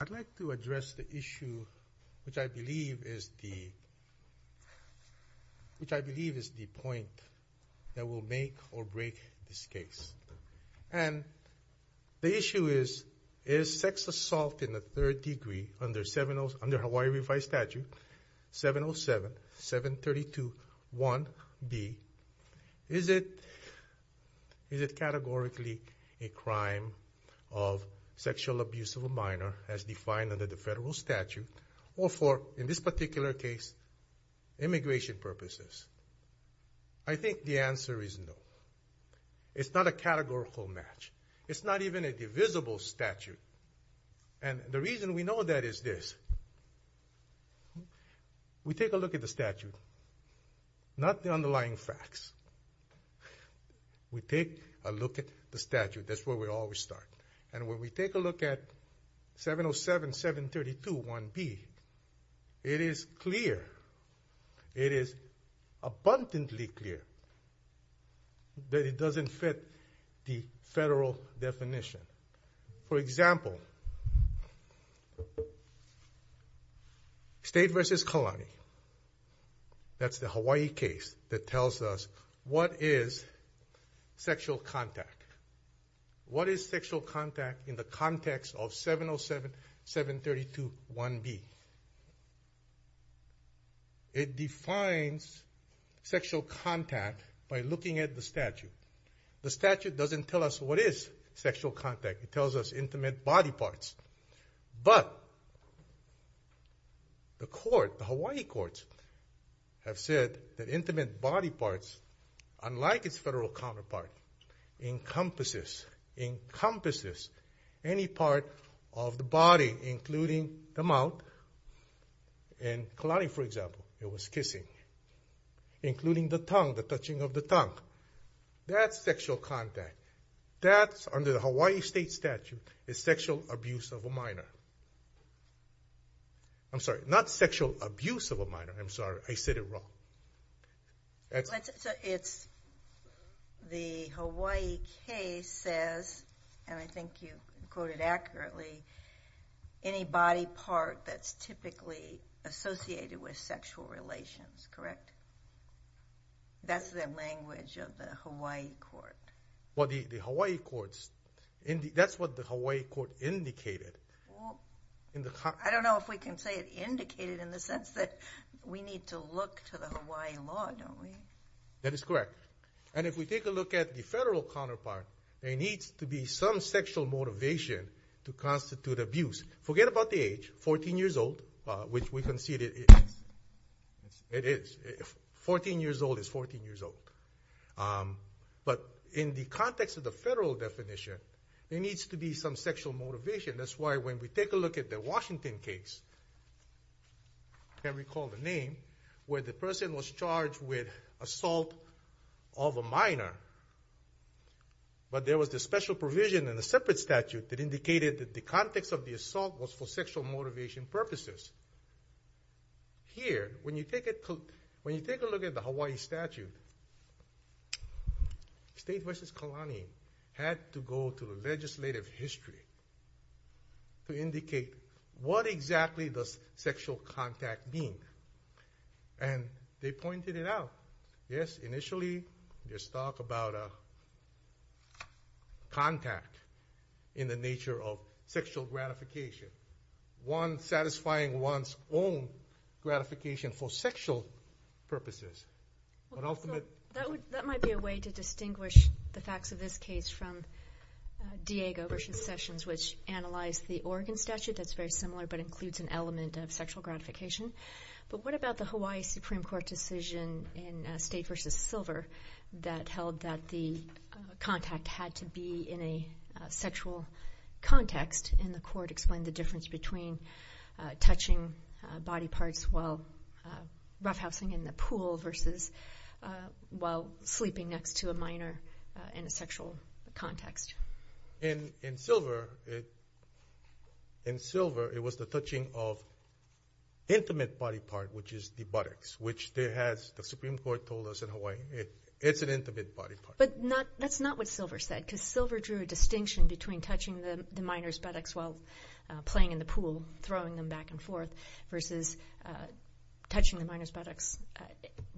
I'd like to address the issue which I believe is the point that will make or break this case. And the issue is, is sex assault in the third degree under Hawaii Revised Statute 707.732.1b Is it categorically a crime of sexual abuse of a minor as defined under the federal statute, or for, in this particular case, immigration purposes? I think the answer is no. It's not a categorical match. It's not even a divisible statute. And the reason we know that is this. We take a look at the statute. Not the underlying facts. We take a look at the statute. That's where we always start. And when we take a look at 707.732.1b, it is clear, it is abundantly clear, that it doesn't fit the federal definition. For example, State v. Kalani. That's the Hawaii case that tells us what is sexual contact. What is sexual contact in the context of 707.732.1b? It defines sexual contact by looking at the statute. The statute doesn't tell us what is sexual contact. It tells us intimate body parts. But the court, the Hawaii courts, have said that intimate body parts, unlike its federal counterpart, encompasses any part of the body, including the mouth. In Kalani, for example, it was kissing. Including the tongue, the touching of the tongue. That's sexual contact. That, under the Hawaii state statute, is sexual abuse of a minor. I'm sorry, not sexual abuse of a minor. I'm sorry, I said it wrong. It's the Hawaii case says, and I think you quoted accurately, any body part that's typically associated with sexual relations. Correct? That's the language of the Hawaii court. Well, the Hawaii courts, that's what the Hawaii court indicated. I don't know if we can say it indicated in the sense that we need to look to the Hawaii law, don't we? That is correct. And if we take a look at the federal counterpart, there needs to be some sexual motivation to constitute abuse. Forget about the age. Fourteen years old, which we conceded it is. It is. Fourteen years old is fourteen years old. But in the context of the federal definition, there needs to be some sexual motivation. That's why when we take a look at the Washington case, I can't recall the name, where the person was charged with assault of a minor, but there was a special provision in the separate statute that indicated that the context of the assault was for sexual motivation purposes. Here, when you take a look at the Hawaii statute, State v. Kalani had to go to the legislative history to indicate what exactly does sexual contact mean. And they pointed it out. Yes, initially there's talk about contact in the nature of sexual gratification. One satisfying one's own gratification for sexual purposes. That might be a way to distinguish the facts of this case from Diego v. Sessions, which analyzed the Oregon statute. That's very similar, but includes an element of sexual gratification. But what about the Hawaii Supreme Court decision in State v. Silver that held that the contact had to be in a sexual context, and the court explained the difference between touching body parts while roughhousing in the pool versus while sleeping next to a minor in a sexual context? In Silver, it was the touching of intimate body part, which is the buttocks, which the Supreme Court told us in Hawaii, it's an intimate body part. But that's not what Silver said, because Silver drew a distinction between touching the minor's buttocks while playing in the pool, throwing them back and forth, versus touching the minor's buttocks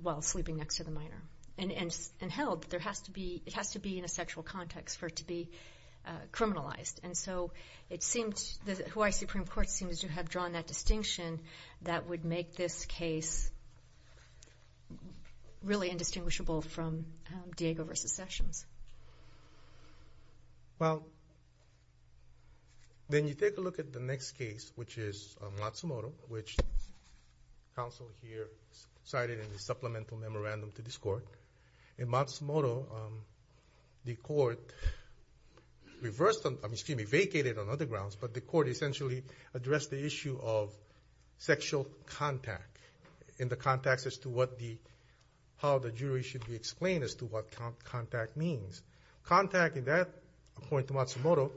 while sleeping next to the minor. And held that it has to be in a sexual context for it to be criminalized. And so the Hawaii Supreme Court seems to have drawn that distinction that would make this case really indistinguishable from Diego v. Sessions. Well, then you take a look at the next case, which is Matsumoto, which counsel here cited in the supplemental memorandum to this court. In Matsumoto, the court vacated on other grounds, but the court essentially addressed the issue of sexual contact in the context as to how the jury should be explained as to what contact means. Contact, in that point in Matsumoto,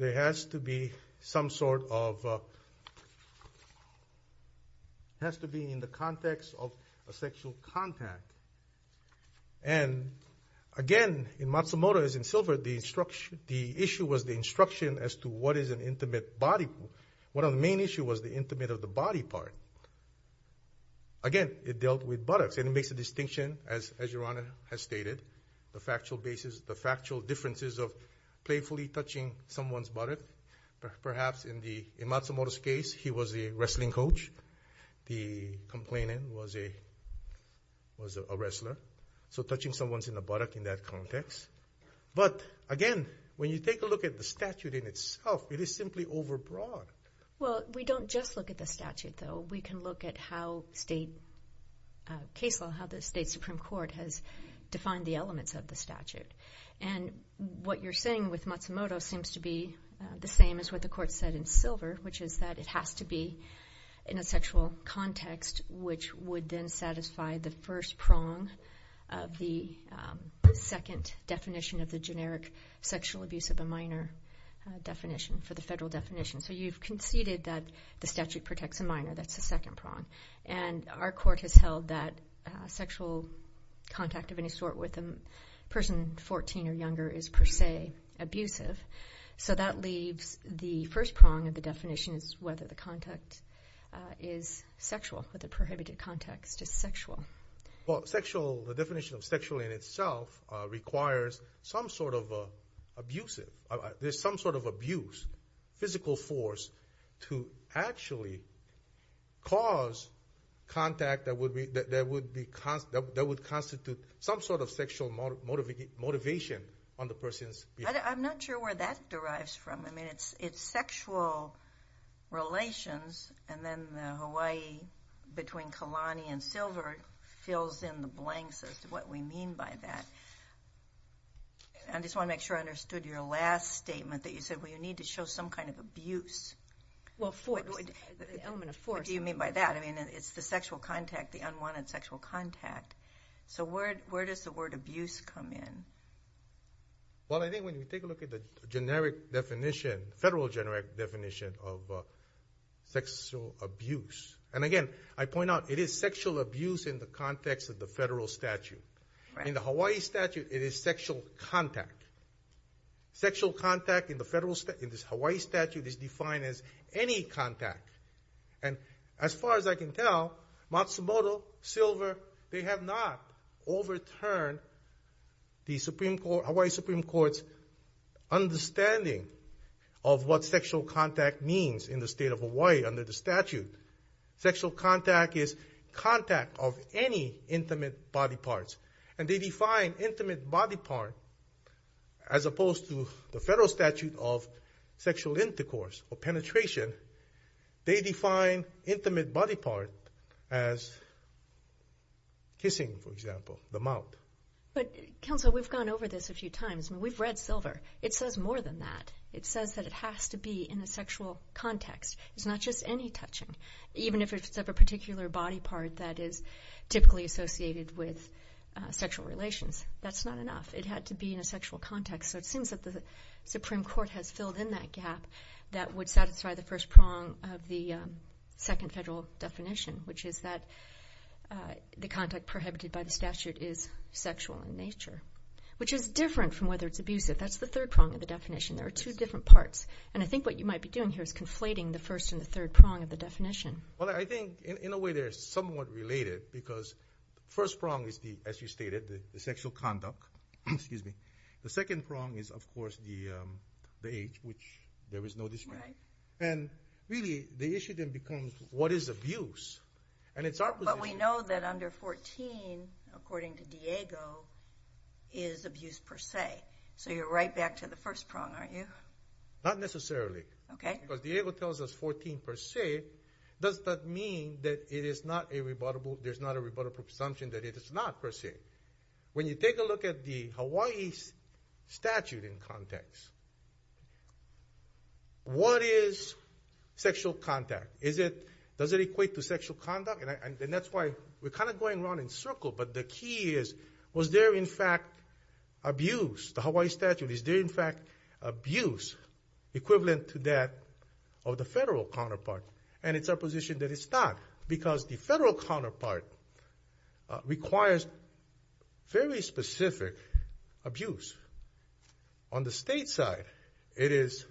has to be in the context of a sexual contact. And again, in Matsumoto, as in Silver, the issue was the instruction as to what is an intimate body part. One of the main issues was the intimate of the body part. Again, it dealt with buttocks. And it makes a distinction, as Your Honor has stated, the factual basis, the factual differences of playfully touching someone's buttock. Perhaps in Matsumoto's case, he was a wrestling coach. The complainant was a wrestler. So touching someone's buttock in that context. But again, when you take a look at the statute in itself, it is simply overbroad. Well, we don't just look at the statute, though. We can look at how state case law, how the state Supreme Court has defined the elements of the statute. And what you're saying with Matsumoto seems to be the same as what the court said in Silver, which is that it has to be in a sexual context, which would then satisfy the first prong of the second definition of the generic sexual abuse of a minor definition for the federal definition. So you've conceded that the statute protects a minor. That's the second prong. And our court has held that sexual contact of any sort with a person 14 or younger is per se abusive. So that leaves the first prong of the definition is whether the contact is sexual, or the prohibited context is sexual. Well, sexual, the definition of sexual in itself requires some sort of abusive, there's some sort of abuse, physical force to actually cause contact that would constitute some sort of sexual motivation on the person's behalf. I'm not sure where that derives from. I mean, it's sexual relations, and then the Hawaii between Kalani and Silver fills in the blanks as to what we mean by that. I just want to make sure I understood your last statement, that you said, well, you need to show some kind of abuse. Well, force, the element of force. What do you mean by that? I mean, it's the sexual contact, the unwanted sexual contact. So where does the word abuse come in? Well, I think when you take a look at the generic definition, federal generic definition of sexual abuse, and again, I point out it is sexual abuse in the context of the federal statute. In the Hawaii statute, it is sexual contact. Sexual contact in this Hawaii statute is defined as any contact. And as far as I can tell, Matsumoto, Silver, they have not overturned the Hawaii Supreme Court's understanding of what sexual contact means in the state of Hawaii under the statute. Sexual contact is contact of any intimate body parts, and they define intimate body part as opposed to the federal statute of sexual intercourse or penetration, they define intimate body part as kissing, for example, the mouth. But, Counsel, we've gone over this a few times. We've read Silver. It says more than that. It says that it has to be in a sexual context. It's not just any touching, even if it's of a particular body part that is typically associated with sexual relations. That's not enough. It had to be in a sexual context. So it seems that the Supreme Court has filled in that gap that would satisfy the first prong of the second federal definition, which is that the contact prohibited by the statute is sexual in nature, which is different from whether it's abusive. That's the third prong of the definition. There are two different parts. And I think what you might be doing here is conflating the first and the third prong of the definition. Well, I think, in a way, they're somewhat related because the first prong is, as you stated, the sexual conduct. The second prong is, of course, the age, which there is no dispute. And, really, the issue then becomes what is abuse. But we know that under 14, according to Diego, is abuse per se. So you're right back to the first prong, aren't you? Not necessarily. Okay. Because Diego tells us 14 per se. Does that mean that there's not a rebuttable assumption that it is not per se? When you take a look at the Hawaii statute in context, what is sexual contact? Does it equate to sexual conduct? And that's why we're kind of going around in circles. But the key is, was there, in fact, abuse? The Hawaii statute, is there, in fact, abuse equivalent to that of the federal counterpart? And it's our position that it's not because the federal counterpart requires very specific abuse. On the state side, it is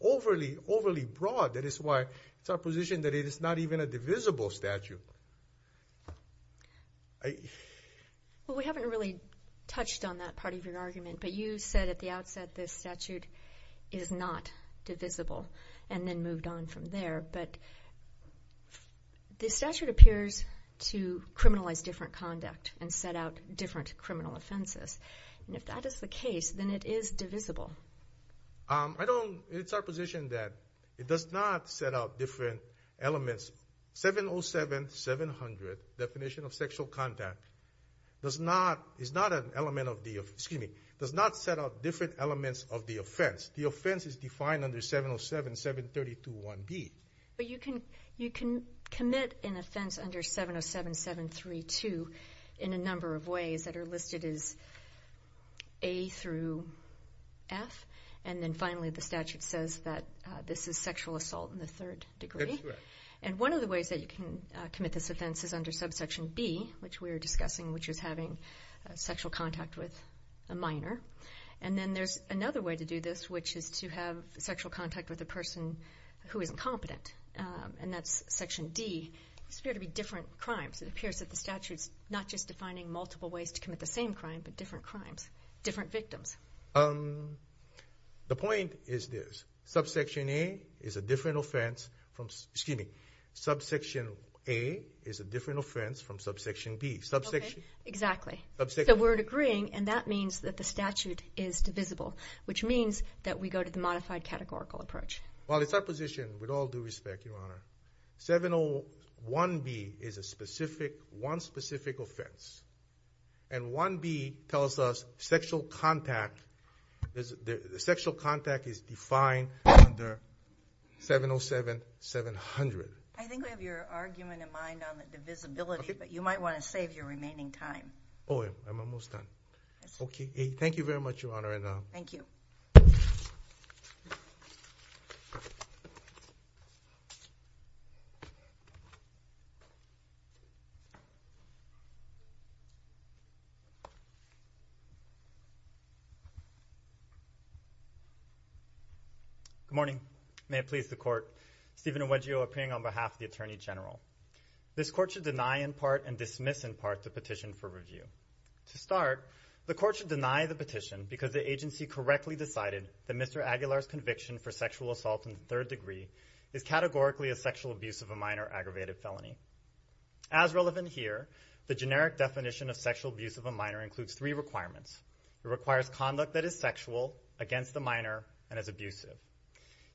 overly, overly broad. That is why it's our position that it is not even a divisible statute. Well, we haven't really touched on that part of your argument, but you said at the outset this statute is not divisible and then moved on from there. But the statute appears to criminalize different conduct and set out different criminal offenses. And if that is the case, then it is divisible. It's our position that it does not set out different elements. 707-700, definition of sexual conduct, does not set out different elements of the offense. The offense is defined under 707-732-1B. But you can commit an offense under 707-732 in a number of ways that are listed as A through F, and then finally the statute says that this is sexual assault in the third degree. That's right. And one of the ways that you can commit this offense is under subsection B, which we were discussing, which is having sexual contact with a minor. And then there's another way to do this, which is to have sexual contact with a person who is incompetent, and that's section D. These appear to be different crimes. It appears that the statute is not just defining multiple ways to commit the same crime, but different crimes, different victims. The point is this. Subsection A is a different offense from subsection B. Exactly. So we're agreeing, and that means that the statute is divisible, which means that we go to the modified categorical approach. Well, it's our position, with all due respect, Your Honor, 701-B is a specific, one specific offense, and 1B tells us sexual contact is defined under 707-700. I think I have your argument in mind on the divisibility, but you might want to save your remaining time. Oh, I'm almost done. Okay. Thank you very much, Your Honor. Thank you. Good morning. May it please the Court. Stephen Nwegio appearing on behalf of the Attorney General. This Court should deny in part and dismiss in part the petition for review. To start, the Court should deny the petition because the agency correctly decided that Mr. Aguilar's conviction for sexual assault in the third degree is categorically a sexual abuse of a minor aggravated felony. As relevant here, the generic definition of sexual abuse of a minor includes three requirements. It requires conduct that is sexual, against a minor, and is abusive.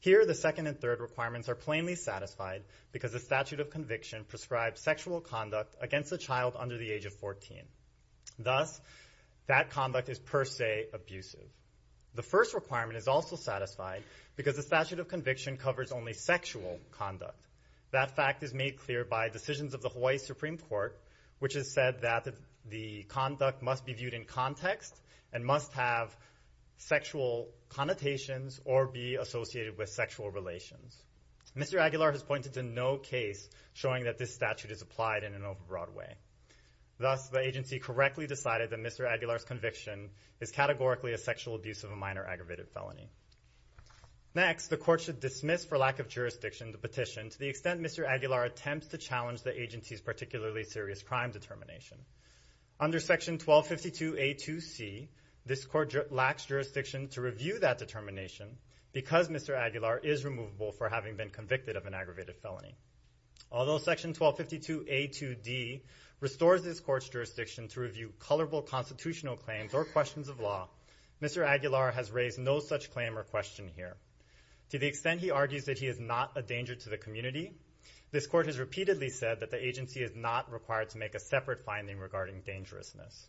Here, the second and third requirements are plainly satisfied because the statute of conviction prescribes sexual conduct against a child under the age of 14. Thus, that conduct is per se abusive. The first requirement is also satisfied because the statute of conviction covers only sexual conduct. That fact is made clear by decisions of the Hawaii Supreme Court, which has said that the conduct must be viewed in context and must have sexual connotations or be associated with sexual relations. Mr. Aguilar has pointed to no case showing that this statute is applied in an overbroad way. Thus, the agency correctly decided that Mr. Aguilar's conviction is categorically a sexual abuse of a minor aggravated felony. Next, the Court should dismiss for lack of jurisdiction the petition to the extent Mr. Aguilar attempts to challenge the agency's particularly serious crime determination. Under Section 1252A2C, this Court lacks jurisdiction to review that determination because Mr. Aguilar is removable for having been convicted of an aggravated felony. Although Section 1252A2D restores this Court's jurisdiction to review colorful constitutional claims or questions of law, Mr. Aguilar has raised no such claim or question here. To the extent he argues that he is not a danger to the community, this Court has repeatedly said that the agency is not required to make a separate finding regarding dangerousness.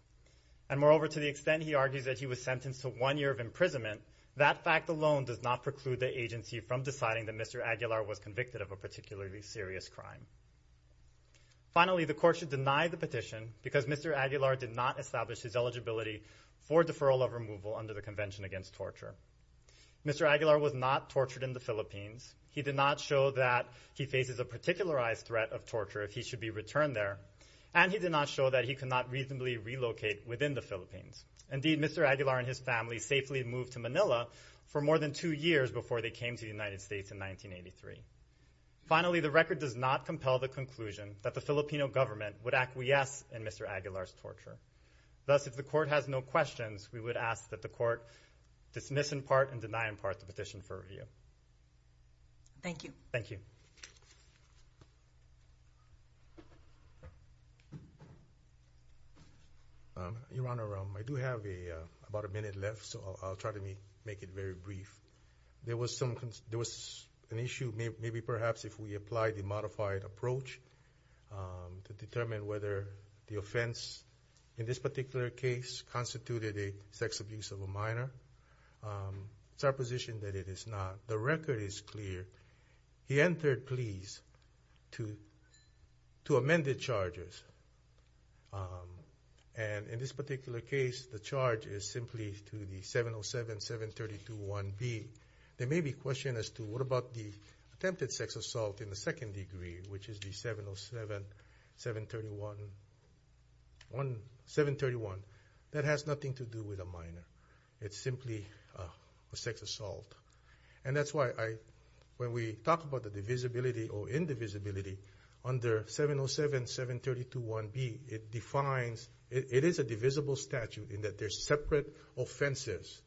And moreover, to the extent he argues that he was sentenced to one year of imprisonment, that fact alone does not preclude the agency from deciding that Mr. Aguilar was convicted of a particularly serious crime. Finally, the Court should deny the petition because Mr. Aguilar did not establish his eligibility for deferral of removal under the Convention Against Torture. Mr. Aguilar was not tortured in the Philippines. He did not show that he faces a particularized threat of torture if he should be returned there. And he did not show that he could not reasonably relocate within the Philippines. Indeed, Mr. Aguilar and his family safely moved to Manila for more than two years before they came to the United States in 1983. Finally, the record does not compel the conclusion that the Filipino government would acquiesce in Mr. Aguilar's torture. Thus, if the Court has no questions, we would ask that the Court dismiss in part and deny in part the petition for review. Thank you. Thank you. Your Honor, I do have about a minute left, so I'll try to make it very brief. There was an issue, maybe perhaps if we apply the modified approach to determine whether the offense in this particular case constituted a sex abuse of a minor. It's our position that it is not. The record is clear. He entered pleas to amended charges. And in this particular case, the charge is simply to the 707-732-1B. There may be questions as to what about the attempted sex assault in the second degree, which is the 707-731. That has nothing to do with a minor. It's simply a sex assault. And that's why when we talk about the divisibility or indivisibility under 707-732-1B, it is a divisible statute in that there's separate offenses.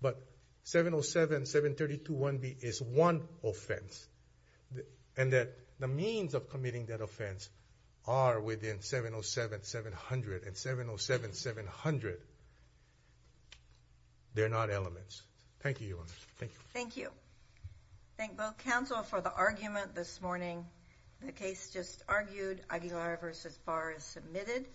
But 707-732-1B is one offense. And that the means of committing that offense are within 707-700. And 707-700, they're not elements. Thank you, Your Honor. Thank you. Thank you. Thank both counsel for the argument this morning. The case just argued. Aguilar v. Barr is submitted.